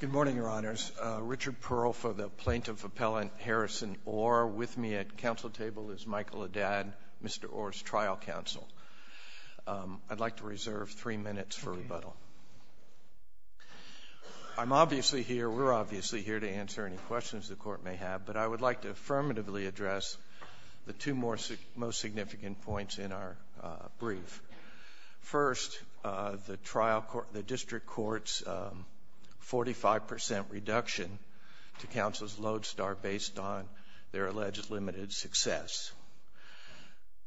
Good morning, Your Honors. Richard Pearl for the Plaintiff Appellant Harrison Orr. With me at counsel table is Michael Adad, Mr. Orr's trial counsel. I'd like to reserve three minutes for rebuttal. I'm obviously here, we're obviously here to answer any questions the court may have, but I would like to affirmatively address the two most significant points in our brief. First, the trial court, the district court's 45% reduction to counsel's lodestar based on their alleged limited success.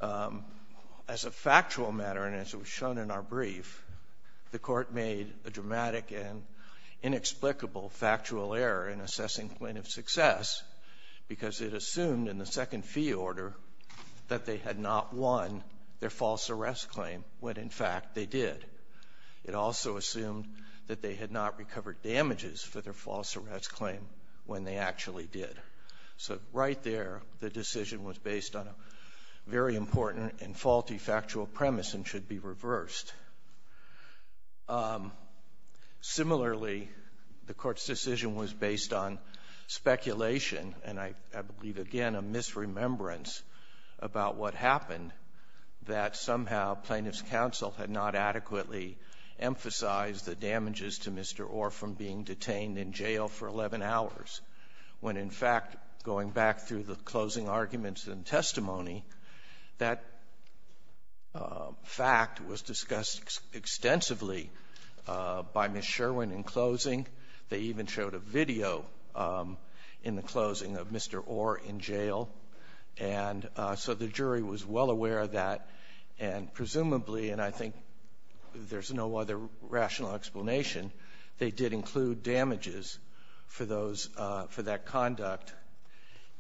As a factual matter, and as it was shown in our brief, the court made a dramatic and inexplicable factual error in assessing plaintiff's success because it assumed in the second fee order that they had not won their false arrest claim, when in fact they did. It also assumed that they had not recovered damages for their false arrest claim when they actually did. So right there, the decision was based on a very important and faulty factual premise and should be reversed. Similarly, the court's decision was based on speculation, and I believe again a misremembrance about what happened, that somehow plaintiff's counsel had not adequately emphasized the damages to Mr. Orr from being detained in jail for 11 hours, when in fact, going back through the closing arguments and testimony, that fact was discussed extensively by Ms. Sherwin in closing. They even showed a video in the closing of Mr. Orr in jail, and so the jury was well aware of that, and presumably, and I think there's no other rational explanation, they did include damages for those for that conduct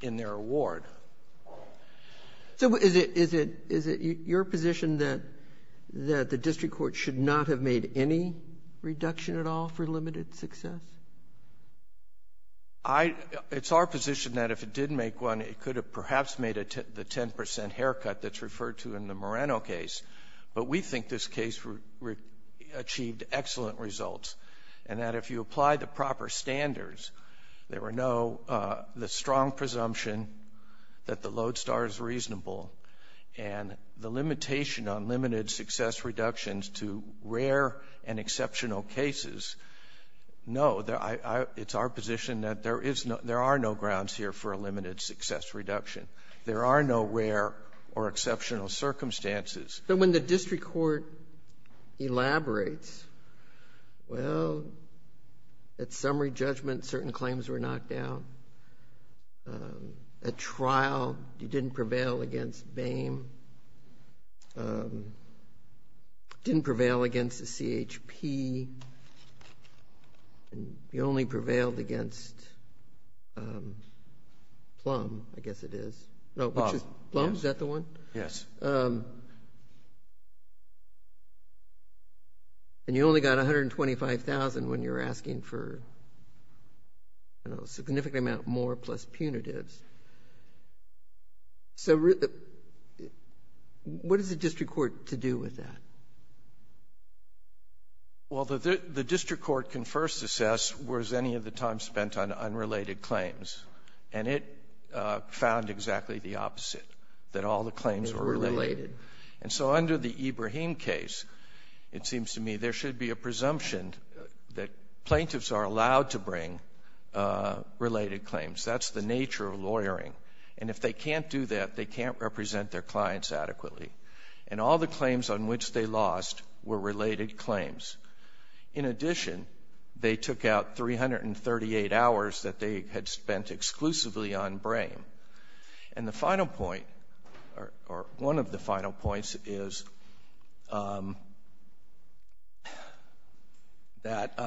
in their award. So is it your position that the district court should not have made any reduction at all for limited success? I, it's our position that if it did make one, it could have perhaps made the 10 percent haircut that's referred to in the Moreno case, but we think this case achieved excellent results, and that if you apply the proper standards, there were no, the strong presumption that the lodestar is reasonable, and the limitation on limited success reductions to rare and exceptional cases, no, it's our position that there is no, there are no grounds here for a limited success reduction. There are no rare or exceptional circumstances. But when the district court elaborates, well, at summary judgment, certain claims were knocked out. At trial, you didn't prevail against BAME, didn't prevail against the CHP, and you only prevailed against Plum, I guess it is, no, which is, Plum, is that the one? Yes. And you only got $125,000 when you're asking for, I don't know, a significant amount more plus punitives. So what does the district court to do with that? Well, the district court can first assess was any of the time spent on unrelated claims, and it found exactly the opposite, that all the claims were related. And so under the Ibrahim case, it seems to me there should be a presumption that plaintiffs are allowed to bring related claims. That's the nature of lawyering. And if they can't do that, they can't represent their clients adequately. And all the claims on which they lost were related claims. In addition, they took out 338 hours that they had spent exclusively on BAME. And the final point, or one of the final points is that,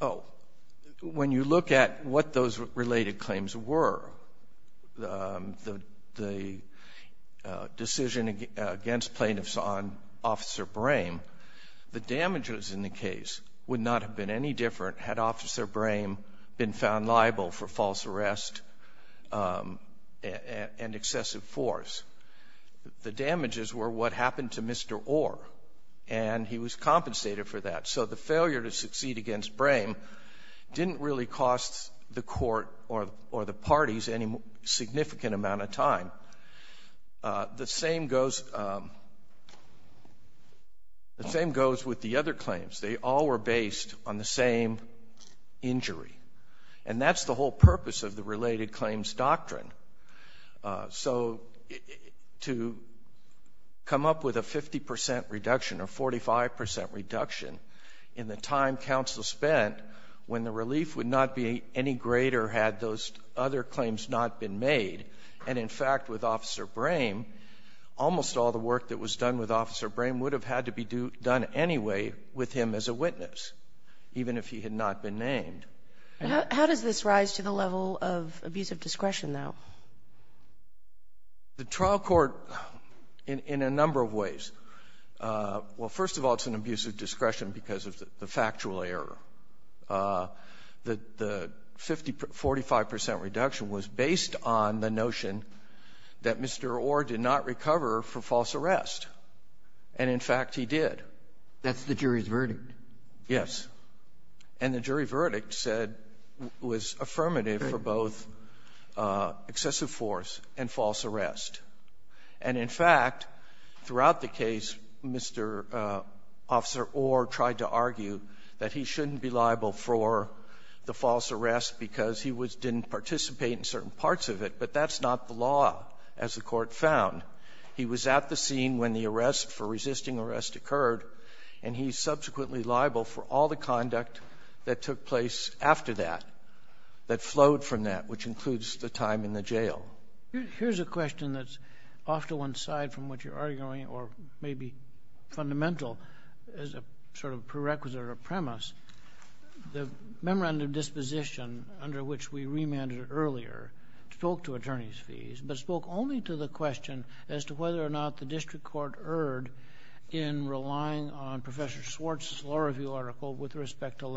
oh, when you look at what those related claims were, the decision against plaintiffs on Officer Brame, the damages in the case would not have been any different had Officer Brame been found liable for false arrest and excessive force. The damages were what happened to Mr. Orr, and he was compensated for that. So the failure to succeed any significant amount of time. The same goes with the other claims. They all were based on the same injury. And that's the whole purpose of the related claims doctrine. So to come up with a 50 percent reduction or 45 percent reduction in the time counsel spent when the relief would not be greater had those other claims not been made, and in fact, with Officer Brame, almost all the work that was done with Officer Brame would have had to be done anyway with him as a witness, even if he had not been named. How does this rise to the level of abusive discretion, though? The trial court, in a number of ways. Well, first of all, it's an abusive discretion because of the factual error. The 50 percent, 45 percent reduction was based on the notion that Mr. Orr did not recover for false arrest. And in fact, he did. That's the jury's verdict. Yes. And the jury verdict said was affirmative for both excessive force and false arrest. And in fact, throughout the case, Mr. Officer Orr tried to argue that he shouldn't be liable for the false arrest because he was didn't participate in certain parts of it. But that's not the law, as the Court found. He was at the scene when the arrest for resisting arrest occurred, and he's subsequently liable for all the conduct that took place after that, that flowed from that, which includes the time in the jail. Here's a question that's off to one side from what you're arguing, or maybe fundamental as a sort of prerequisite or premise. The memorandum of disposition under which we remanded earlier spoke to attorney's fees, but spoke only to the question as to whether or not the district court erred in relying on Professor Swartz's law review article with respect to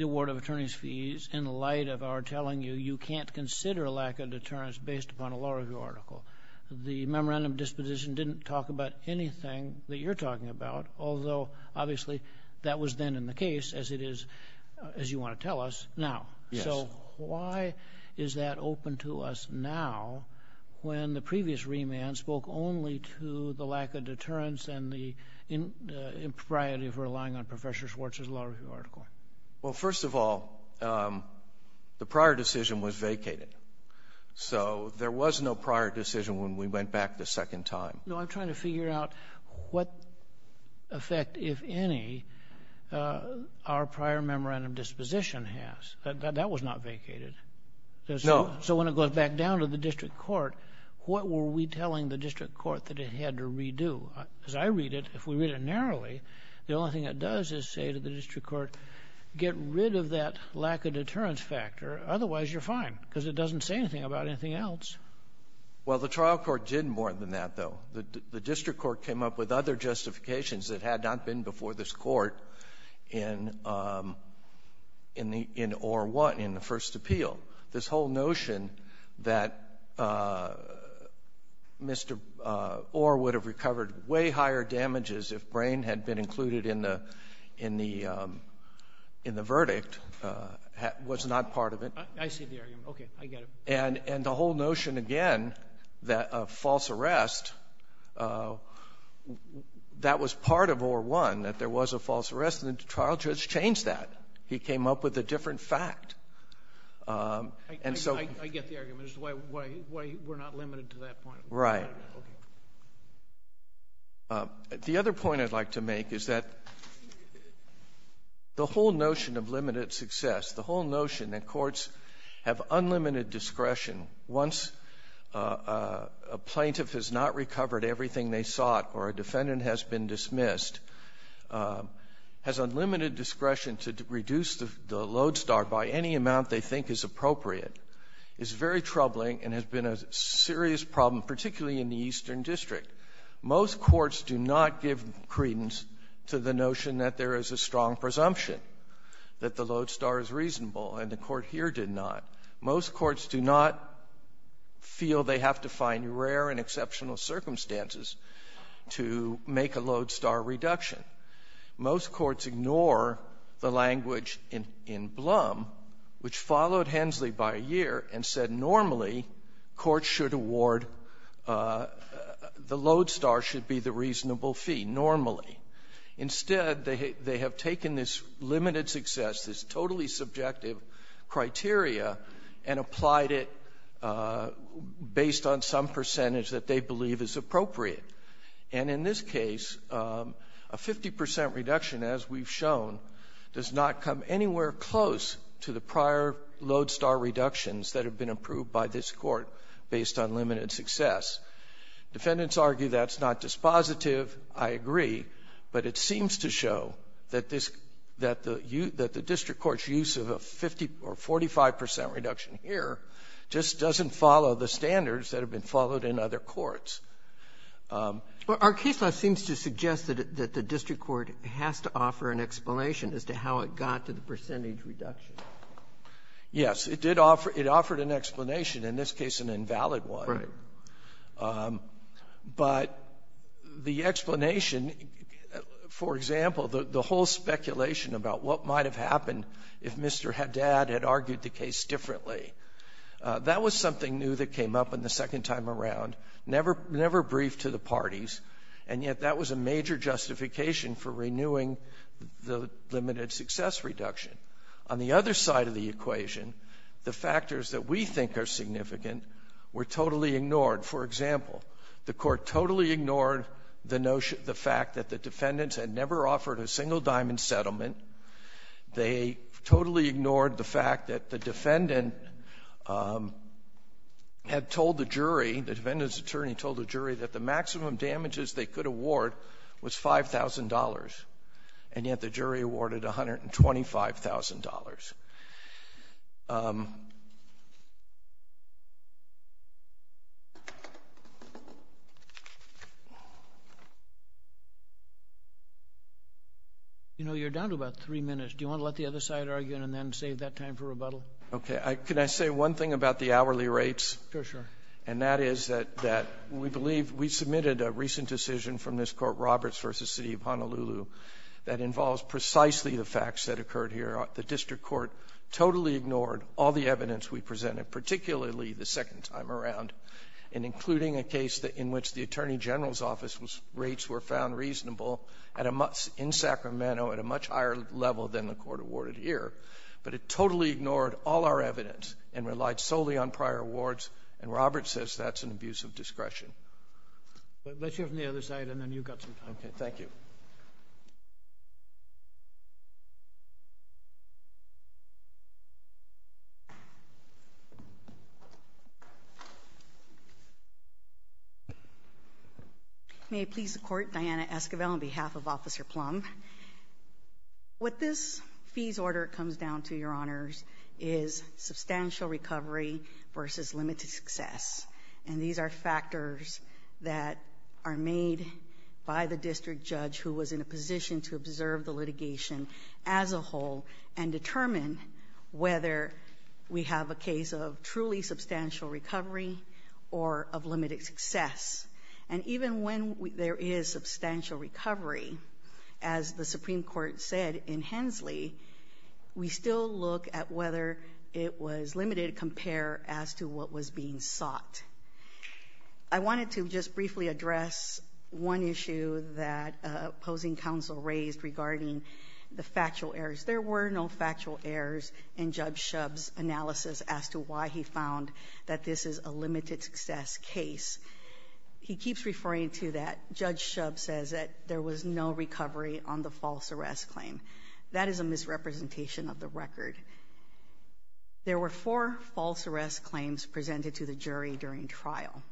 award of attorney's fees in light of our telling you you can't consider a lack of deterrence based upon a law review article. The memorandum of disposition didn't talk about anything that you're talking about, although obviously that was then in the case as it is as you want to tell us now. Yes. So why is that open to us now when the previous remand spoke only to the lack of deterrence and the impropriety of relying on Professor Swartz's law review article? Well, first of all, the prior decision was vacated. So there was no prior decision when we went back the second time. No, I'm trying to figure out what effect, if any, our prior memorandum of disposition has. That was not vacated. No. So when it goes back down to the district court, what were we telling the district court that it had to redo? As I read it, if we read it narrowly, the only thing it does is say to the district court, get rid of that lack of deterrence factor, otherwise you're fine because it doesn't say anything about anything else. Well, the trial court did more than that, though. The district court came up with other justifications that had not been before this court in Orr 1, in the first appeal. This whole notion that Mr. Orr would have recovered way higher damages if Brain had been included in the verdict was not part of it. I see the argument. Okay. I get it. And the whole notion, again, that a false arrest, that was part of Orr 1, that there was a false arrest, and the trial judge changed that. He came up with a different fact. And so — I get the argument as to why we're not limited to that point. Right. Okay. The other point I'd like to make is that the whole notion of limited success, the whole notion that courts have unlimited discretion once a plaintiff has not recovered everything they sought or a defendant has been dismissed, has unlimited discretion to reduce the load start by any amount they think is appropriate, is very troubling and has been a serious problem, particularly in the Eastern District. Most courts do not give credence to the notion that there is a strong presumption that the load star is reasonable, and the Court here did not. Most courts do not feel they have to find rare and exceptional circumstances to make a load star reduction. Most courts ignore the language in Blum, which followed Hensley by a year, and said normally courts should award — the load star should be the reasonable fee, normally. Instead, they have taken this limited success, this totally subjective criteria, and applied it based on some percentage that they believe is appropriate. And in this case, a 50 percent reduction, as we've shown, does not come anywhere close to the prior load star reductions that have been approved by this Court based on limited success. Defendants argue that's not dispositive. I agree. But it seems to show that this — that the — that the district court's use of a 50 or 45 percent reduction here just doesn't follow the standards that have been followed in other courts. Sotomayor, our case law seems to suggest that the district court has to offer an explanation as to how it got to the percentage reduction. Yes. It did offer — it offered an explanation, in this case an invalid one. Right. But the explanation, for example, the whole speculation about what might have happened if Mr. Haddad had argued the case differently, that was something new that came up in the second time around, never — never briefed to the parties, and yet that was a major justification for renewing the limited success reduction. On the other side of the equation, the factors that we think are significant were totally ignored. For example, the Court totally ignored the notion — the fact that the defendants had never offered a single-diamond settlement. They totally ignored the fact that the defendant had told the jury, the defendant's award was $5,000, and yet the jury awarded $125,000. You know, you're down to about three minutes. Do you want to let the other side argue and then save that time for rebuttal? Okay. Can I say one thing about the hourly rates? Sure, sure. And that is that we believe — we submitted a recent decision from this court, Roberts v. City of Honolulu, that involves precisely the facts that occurred here. The district court totally ignored all the evidence we presented, particularly the second time around, and including a case in which the attorney general's office rates were found reasonable in Sacramento at a much higher level than the court awarded here. But it totally ignored all our evidence and relied solely on prior awards. And Roberts says that's an abuse of discretion. Let's hear from the other side, and then you've got some time. Okay. Thank you. May it please the Court, Diana Esquivel on behalf of Officer Plumb. What this fees order comes down to, Your Honors, is substantial recovery versus limited success. And these are factors that are made by the district judge who was in a position to observe the litigation as a whole and determine whether we have a case of truly substantial recovery or of limited success. And even when there is substantial recovery, as the Supreme Court said in Hensley, we still look at whether it was limited compared as to what was being sought. I wanted to just briefly address one issue that opposing counsel raised regarding the factual errors. There were no factual errors in Judge Shub's analysis as to why he found that this is a limited success case. He keeps referring to that. Judge Shub says that there was no recovery on the false arrest claim. That is a misrepresentation of the record. There were four false arrest claims presented to the jury during trial.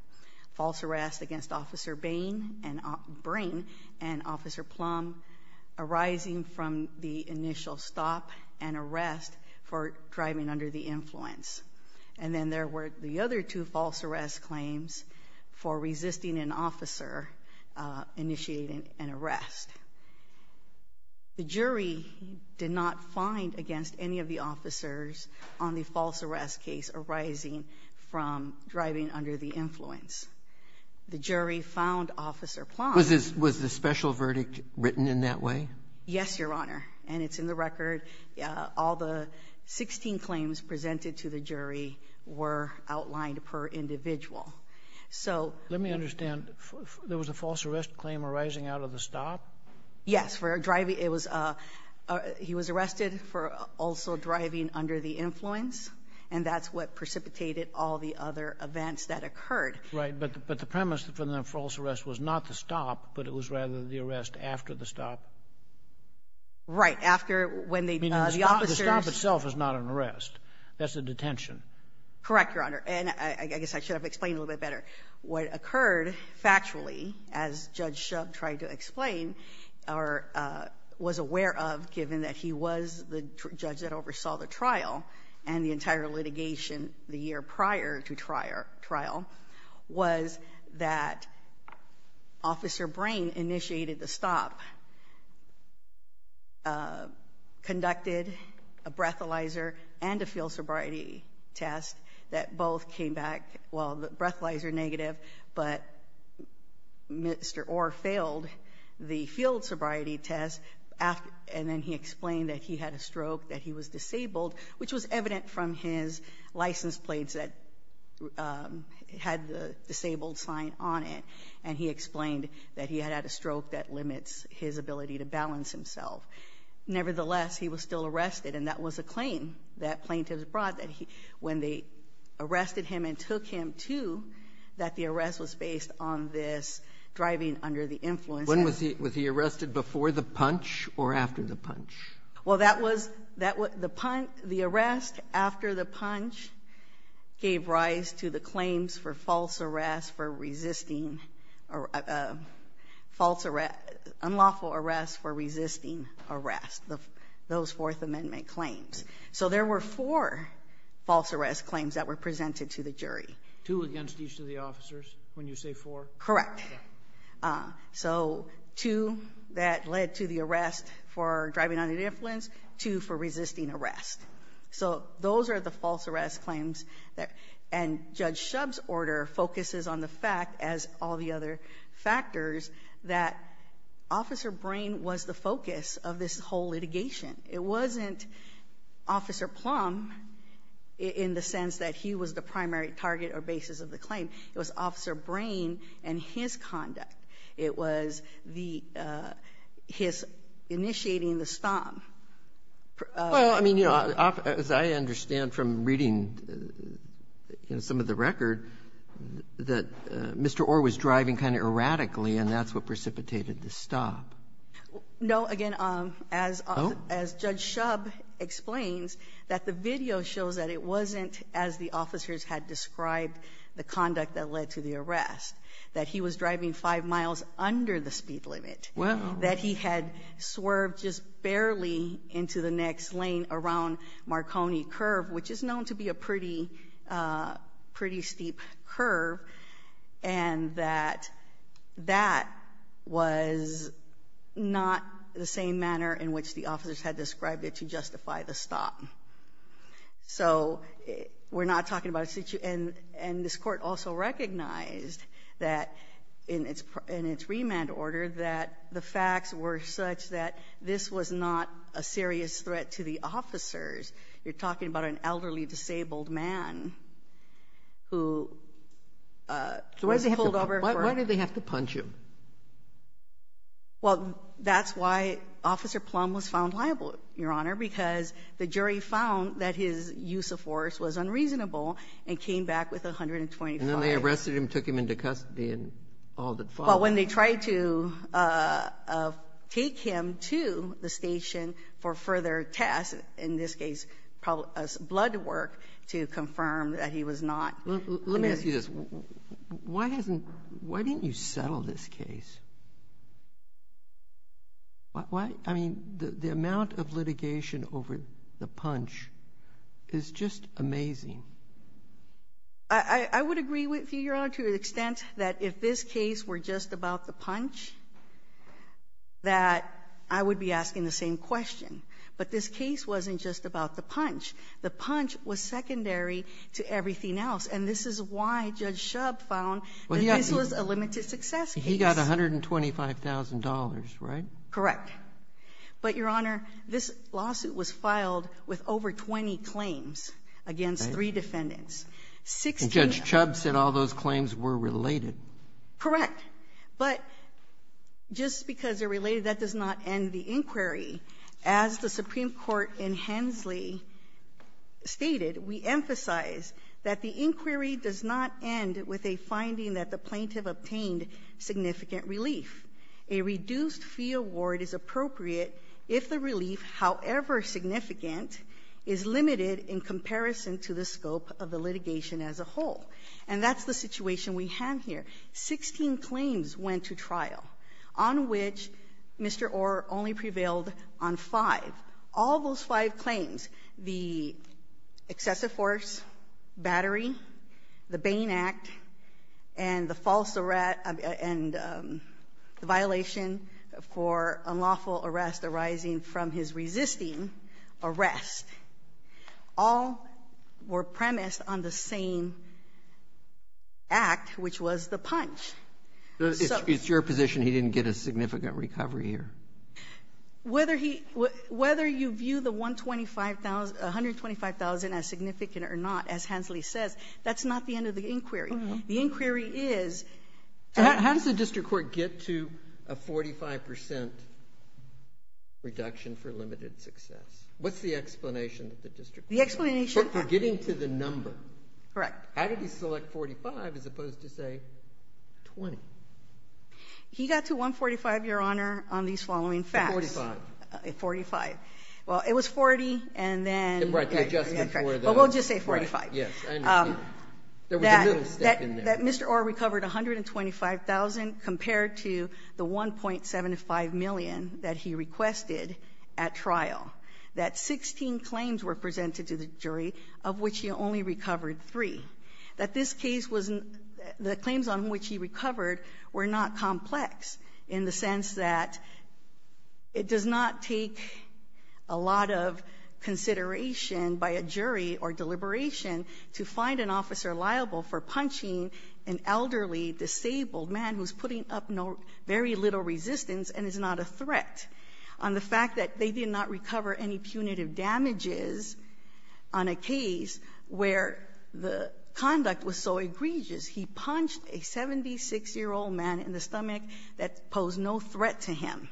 False arrest against Officer Bain and Officer Plumb arising from the initial stop and arrest for driving under the influence. And then there were the other two false arrest claims for resisting an officer initiating an arrest. The jury did not find against any of the officers on the false arrest case arising from driving under the influence. The jury found Officer Plumb- Was the special verdict written in that way? Yes, Your Honor. And it's in the record. All the 16 claims presented to the jury were outlined per individual. So- Let me understand. There was a false arrest claim arising out of the stop? Yes, for driving, it was, he was arrested for also driving under the influence. And that's what precipitated all the other events that occurred. Right, but the premise for the false arrest was not the stop, but it was rather the arrest after the stop. Right, after when they- I mean, the stop itself is not an arrest. That's a detention. Correct, Your Honor. And I guess I should have explained a little bit better. What occurred factually, as Judge Shub tried to explain, or was aware of, given that he was the judge that oversaw the trial and the entire litigation the year prior to trial, was that Officer Brain initiated the stop. Conducted a breathalyzer and a field sobriety test that both came back, well, the breathalyzer negative, but Mr. Orr failed the field sobriety test. And then he explained that he had a stroke, that he was disabled, which was evident from his license plates that had the disabled sign on it. And he explained that he had had a stroke that limits his ability to balance himself. Nevertheless, he was still arrested, and that was a claim that plaintiffs brought. When they arrested him and took him to, that the arrest was based on this driving under the influence. When was he arrested, before the punch or after the punch? Well, that was, the arrest after the punch gave rise to the claims for false arrest for resisting, unlawful arrest for resisting arrest, those Fourth Amendment claims. So there were four false arrest claims that were presented to the jury. Two against each of the officers, when you say four? Correct. So two that led to the arrest for driving under the influence, two for resisting arrest. So those are the false arrest claims. And Judge Shub's order focuses on the fact, as all the other factors, that Officer Brain was the focus of this whole litigation. It wasn't Officer Plum in the sense that he was the primary target or basis of the claim. It was Officer Brain and his conduct. It was the, his initiating the stomp. Well, I mean, as I understand from reading some of the record, that Mr. Orr was driving kind of erratically, and that's what precipitated the stop. No, again, as Judge Shub explains, that the video shows that it wasn't, as the officers had described, the conduct that led to the arrest. That he was driving five miles under the speed limit. Wow. That he had swerved just barely into the next lane around Marconi Curve, which is known to be a pretty, pretty steep curve. And that, that was not the same manner in which the officers had described it to justify the stop. So, we're not talking about a, and this court also recognized that in its, in its remand order, that the facts were such that this was not a serious threat to the officers. You're talking about an elderly, disabled man who was pulled over for. Why, why did they have to punch him? Well, that's why Officer Plum was found liable, Your Honor, because the jury found that his use of force was unreasonable and came back with 125. And then they arrested him, took him into custody, and all that followed. Well, when they tried to take him to the station for further tests, in this case, blood work, to confirm that he was not. Let me ask you this. Why hasn't, why didn't you settle this case? Why, I mean, the amount of litigation over the punch is just amazing. I, I would agree with you, Your Honor, to the extent that if this case were just about the punch, that I would be asking the same question. But this case wasn't just about the punch. The punch was secondary to everything else, and this is why Judge Shub found that this was a limited success case. He got $125,000, right? Correct. But, Your Honor, this lawsuit was filed with over 20 claims against three defendants. 16 of them. And Judge Shub said all those claims were related. Correct. But just because they're related, that does not end the inquiry. As the Supreme Court in Hensley stated, we emphasize that the inquiry does not end with a finding that the plaintiff obtained significant relief. A reduced fee award is appropriate if the relief, however significant, is limited in comparison to the scope of the litigation as a whole. And that's the situation we have here. 16 claims went to trial, on which Mr. Orr only prevailed on five. All those five claims, the excessive force, battery, the Bain Act, and the false arrest and the violation for unlawful arrest arising from his resisting arrest, all were premised on the same act, which was the punch. It's your position he didn't get a significant recovery here? Whether you view the $125,000, $125,000 as significant or not, as Hensley says, that's not the end of the inquiry. The inquiry is- So how does the district court get to a 45% reduction for limited success? What's the explanation that the district court- The explanation- For getting to the number. Correct. How did he select 45 as opposed to, say, 20? He got to 145, Your Honor, on these following facts. 145. 45. Well, it was 40, and then- Right, the adjustment for the- Well, we'll just say 45. Yes, I understand. There was a little step in there. That Mr. Orr recovered $125,000 compared to the $1.75 million that he requested at trial. That 16 claims were presented to the jury, of which he only recovered three. That this case was, the claims on which he recovered were not complex in the sense that it does not take a lot of consideration by a jury or deliberation to find an officer liable for punching an elderly, disabled man who's putting up very little resistance and is not a threat. On the fact that they did not recover any punitive damages on a case where the conduct was so egregious, he punched a 76-year-old man in the stomach that posed no threat to him.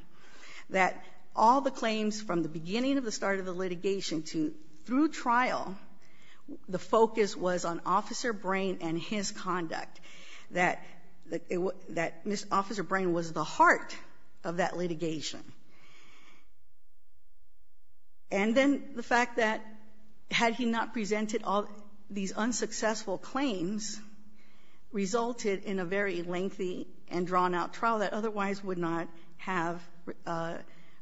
That all the claims from the beginning of the start of the litigation to through trial, the focus was on Officer Brain and his conduct. That Mr. Officer Brain was the heart of that litigation. And then the fact that had he not presented all these unsuccessful claims, resulted in a very lengthy and drawn out trial that otherwise would not have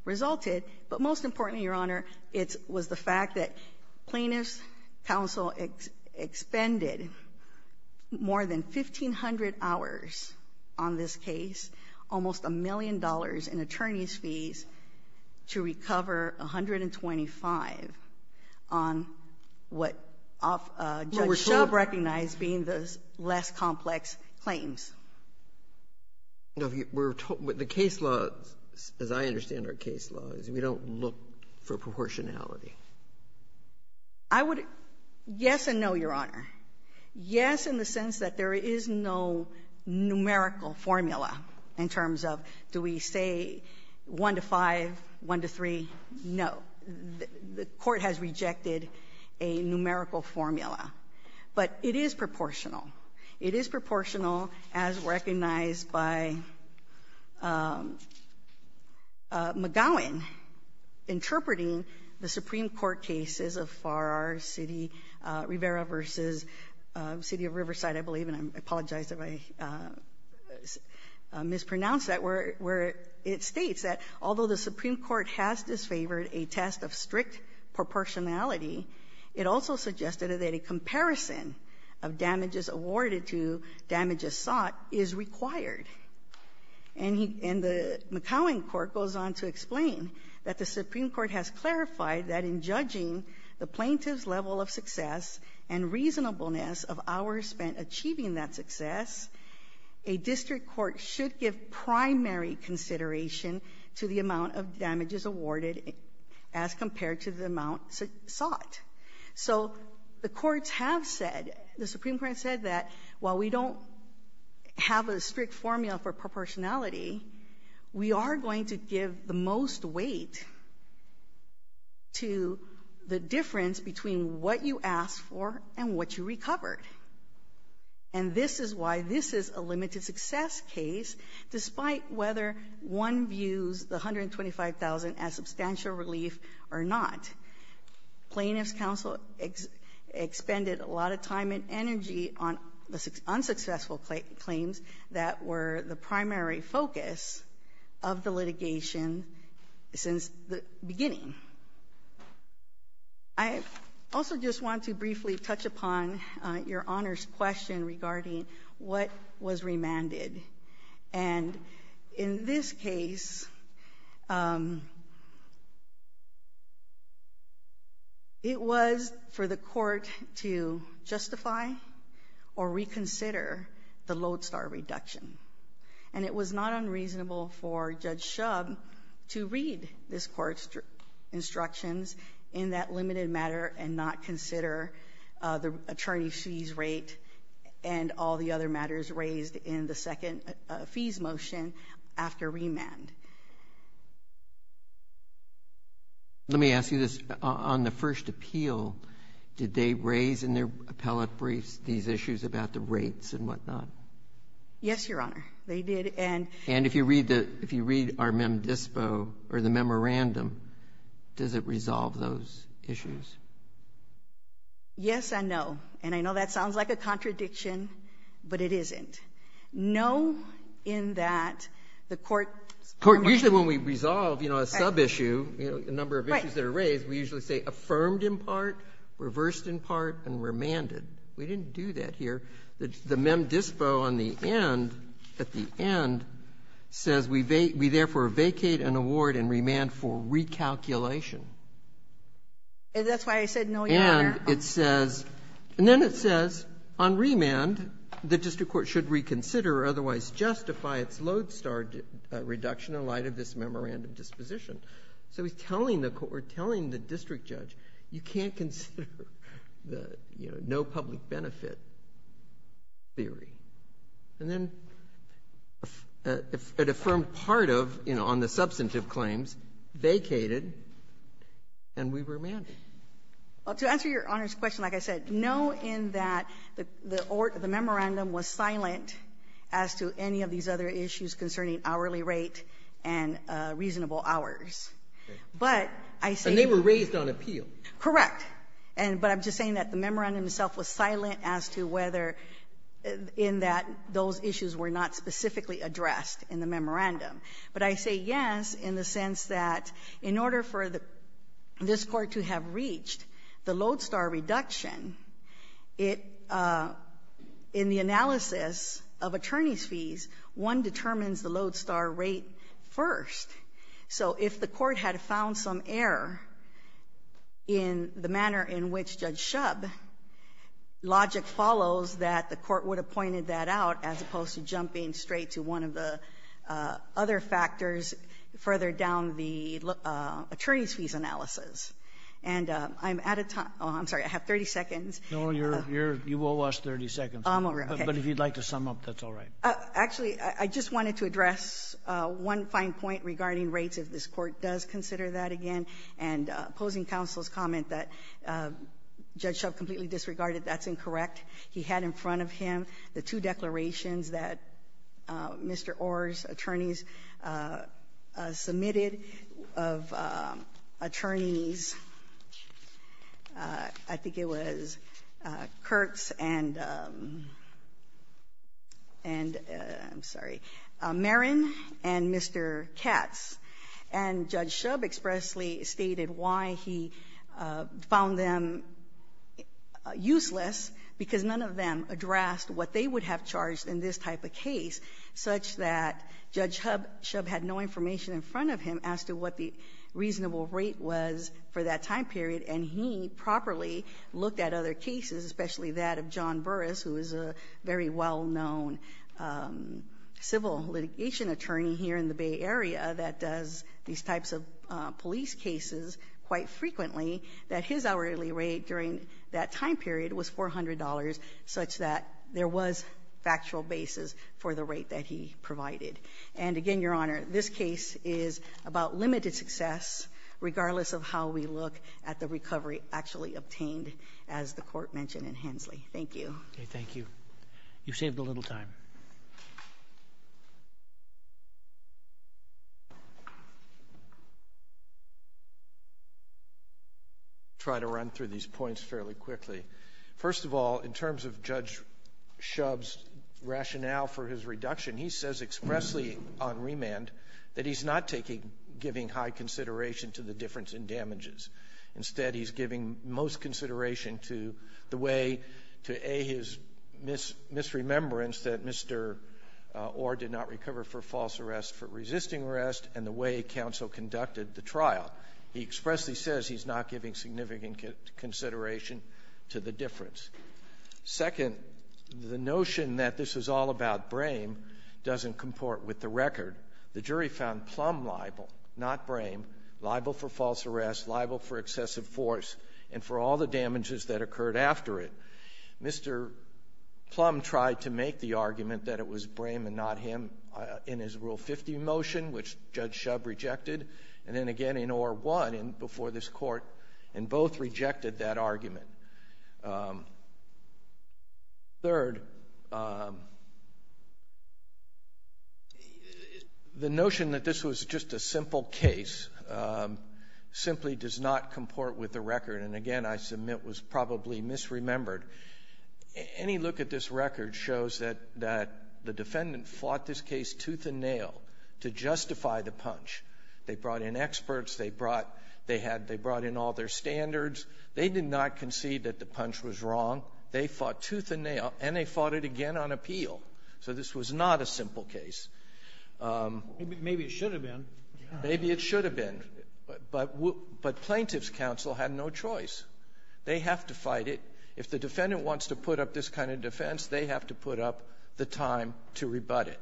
resulted. But most importantly, Your Honor, it was the fact that plaintiff's counsel expended more than 1,500 hours on this case. Almost a million dollars in attorney's fees to recover 125 on what Judge Shub recognized being the less complex claims. The case law, as I understand our case law, is we don't look for proportionality. I would, yes and no, Your Honor. Yes, in the sense that there is no numerical formula. In terms of, do we say one to five, one to three? No, the court has rejected a numerical formula. But it is proportional. It is proportional as recognized by McGowan. Interpreting the Supreme Court cases of Farrar City, Rivera versus City of Riverside, I believe. And I apologize if I mispronounce that, where it states that although the Supreme Court has disfavored a test of strict proportionality, it also suggested that a comparison of damages awarded to damages sought is required. And the McGowan court goes on to explain that the Supreme Court has clarified that in judging the plaintiff's level of success and reasonableness of hours spent achieving that success, a district court should give primary consideration to the amount of damages awarded as compared to the amount sought. So the courts have said, the Supreme Court said that while we don't have a strict formula for proportionality, we are going to give the most weight to the difference between what you asked for and what you recovered. And this is why this is a limited success case, despite whether one views the $125,000 as substantial relief or not. Plaintiff's counsel expended a lot of time and practice of the litigation since the beginning. I also just want to briefly touch upon your Honor's question regarding what was remanded. And in this case, it was for the court to justify or reconsider the lodestar reduction. And it was not unreasonable for Judge Shub to read this court's instructions in that limited matter and not consider the attorney's fees rate and all the other matters raised in the second fees motion after remand. Let me ask you this. On the first appeal, did they raise in their appellate briefs these issues about the rates and whatnot? Yes, Your Honor, they did. And if you read our mem dispo or the memorandum, does it resolve those issues? Yes and no. And I know that sounds like a contradiction, but it isn't. No, in that the court's- Court, usually when we resolve a sub-issue, a number of issues that are raised, we usually say affirmed in part, reversed in part, and remanded. We didn't do that here. The mem dispo on the end, at the end, says we therefore vacate an award and remand for recalculation. And that's why I said no, Your Honor. And it says, and then it says, on remand, the district court should reconsider or otherwise justify its lodestar reduction in light of this memorandum disposition. So we're telling the district judge, you can't consider the no public benefit theory. And then it affirmed part of, on the substantive claims, vacated, and we remanded. Well, to answer Your Honor's question, like I said, know in that the memorandum was silent as to any of these other issues concerning hourly rate and reasonable hours. But I say- And they were raised on appeal. Correct. And but I'm just saying that the memorandum itself was silent as to whether in that those issues were not specifically addressed in the memorandum. But I say yes in the sense that in order for this court to have reached the lodestar reduction, it, in the analysis of attorney's fees, one determines the lodestar rate first. So if the court had found some error in the manner in which Judge Shubb, logic follows that the court would have pointed that out as opposed to jumping straight to one of the other factors further down the attorney's fees analysis. And I'm at a time — oh, I'm sorry, I have 30 seconds. No, you're — you will last 30 seconds. I'm over it, okay. But if you'd like to sum up, that's all right. Actually, I just wanted to address one fine point regarding rates, if this court does consider that again, and opposing counsel's comment that Judge Shubb completely disregarded. That's incorrect. He had in front of him the two declarations that Mr. Orr's attorneys submitted of attorneys — I think it was Kurtz and — and — I'm sorry — Merrin and Mr. Katz. And Judge Shubb expressly stated why he found them useless, because none of them addressed what they would have charged in this type of case, such that Judge Shubb had no information in front of him as to what the reasonable rate was for that time period, and he properly looked at other cases, especially that of John Burris, who is a very well-known civil litigation attorney here in the Bay Area that does these types of police cases quite frequently, that his hourly rate during that time period was $400, such that there was factual basis for the rate that he provided. And again, Your Honor, this case is about limited success, regardless of how we look at the recovery actually obtained, as the Court mentioned in Hensley. Thank you. Roberts. Thank you. You've saved a little time. I'll try to run through these points fairly quickly. First of all, in terms of Judge Shubb's rationale for his reduction, he says expressly on remand that he's not taking — giving high consideration to the difference in damages. Instead, he's giving most consideration to the way to, A, his misremembrance that Mr. Orr did not recover for false arrest, for resisting arrest, and the way counsel conducted the trial. He expressly says he's not giving significant consideration to the difference. Second, the notion that this is all about Brame doesn't comport with the record. The jury found Plum liable, not Brame, liable for false arrest, liable for excessive force, and for all the damages that occurred after it. Mr. Plum tried to make the argument that it was Brame and not him in his Rule 50 motion, which Judge Shubb rejected, and then again in Orr won before this Court, and both rejected that argument. Third, the notion that this was just a simple case simply does not comport with the record, and again I submit was probably misremembered. Any look at this record shows that the defendant fought this case tooth and nail to justify the punch. They brought in experts. They brought — they had — they brought in all their standards. They did not concede that the punch was wrong. They fought tooth and nail, and they fought it again on appeal. So this was not a simple case. Maybe it should have been. Maybe it should have been. But — but plaintiff's counsel had no choice. They have to fight it. If the defendant wants to put up this kind of defense, they have to put up the time to rebut it.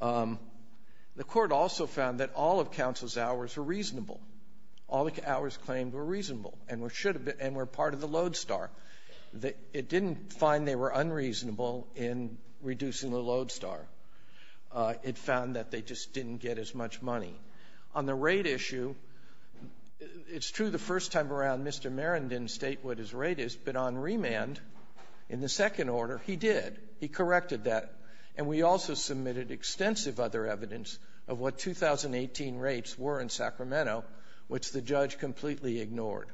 The Court also found that all of counsel's hours were reasonable. All the hours claimed were reasonable and were part of the load star. It didn't find they were unreasonable in reducing the load star. It found that they just didn't get as much money. On the rate issue, it's true the first time around Mr. Merrin didn't state what his rate is, but on remand, in the second order, he did. He corrected that. And we also submitted extensive other evidence of what 2018 rates were in Sacramento, which the judge completely ignored.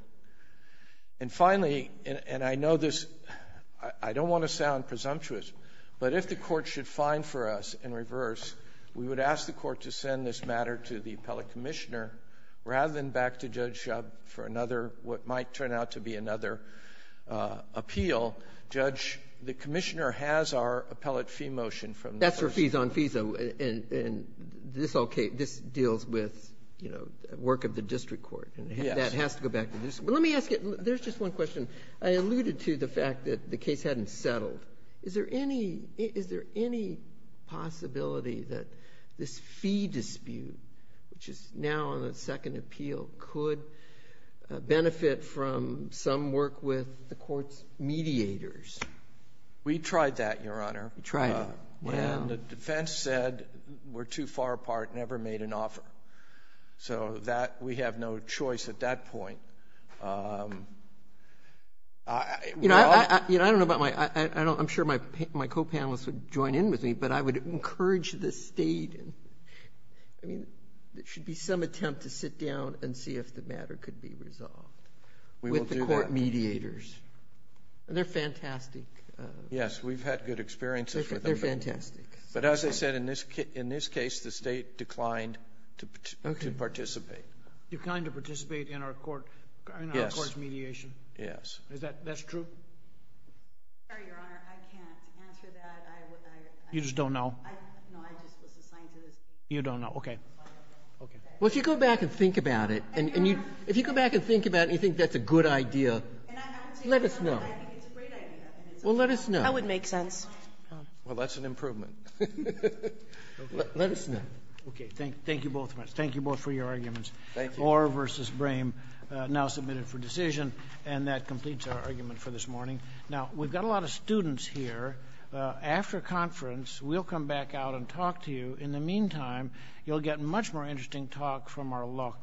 And finally — and I know this — I don't want to sound presumptuous, but if the Court should find for us in reverse, we would ask the Court to send this matter to the appellate commissioner rather than back to Judge Shub for another — what might turn out to be another appeal. Well, Judge, the commissioner has our appellate fee motion from the first — That's for fees on fees, though, and this deals with, you know, work of the district court. Yes. And that has to go back to the district. But let me ask you — there's just one question. I alluded to the fact that the case hadn't settled. Is there any possibility that this fee dispute, which is now on the second appeal, could benefit from some work with the Court's mediators? We tried that, Your Honor. You tried it. Yeah. And the defense said we're too far apart, never made an offer. So that — we have no choice at that point. You know, I don't know about my — I'm sure my co-panelists would join in with me, but I would encourage the State — I mean, there should be some attempt to sit down and see if the matter could be resolved with the Court mediators. They're fantastic. Yes. We've had good experiences with them. They're fantastic. But as I said, in this case, the State declined to participate. Declined to participate in our Court's mediation? Yes. Yes. Is that — that's true? I'm sorry, Your Honor. I can't answer that. I — You just don't know? No. I just was assigned to this. You don't know. Okay. Okay. Well, if you go back and think about it, and you — if you go back and think about it and you think that's a good idea, let us know. I think it's a great idea. Well, let us know. That would make sense. Well, that's an improvement. Let us know. Okay. Thank you both very much. Thank you both for your arguments. Thank you. Orr v. Brame now submitted for decision, and that completes our argument for this morning. Now, we've got a lot of students here. After conference, we'll come back out and talk to you. In the meantime, you'll get much more interesting talk from our law clerks.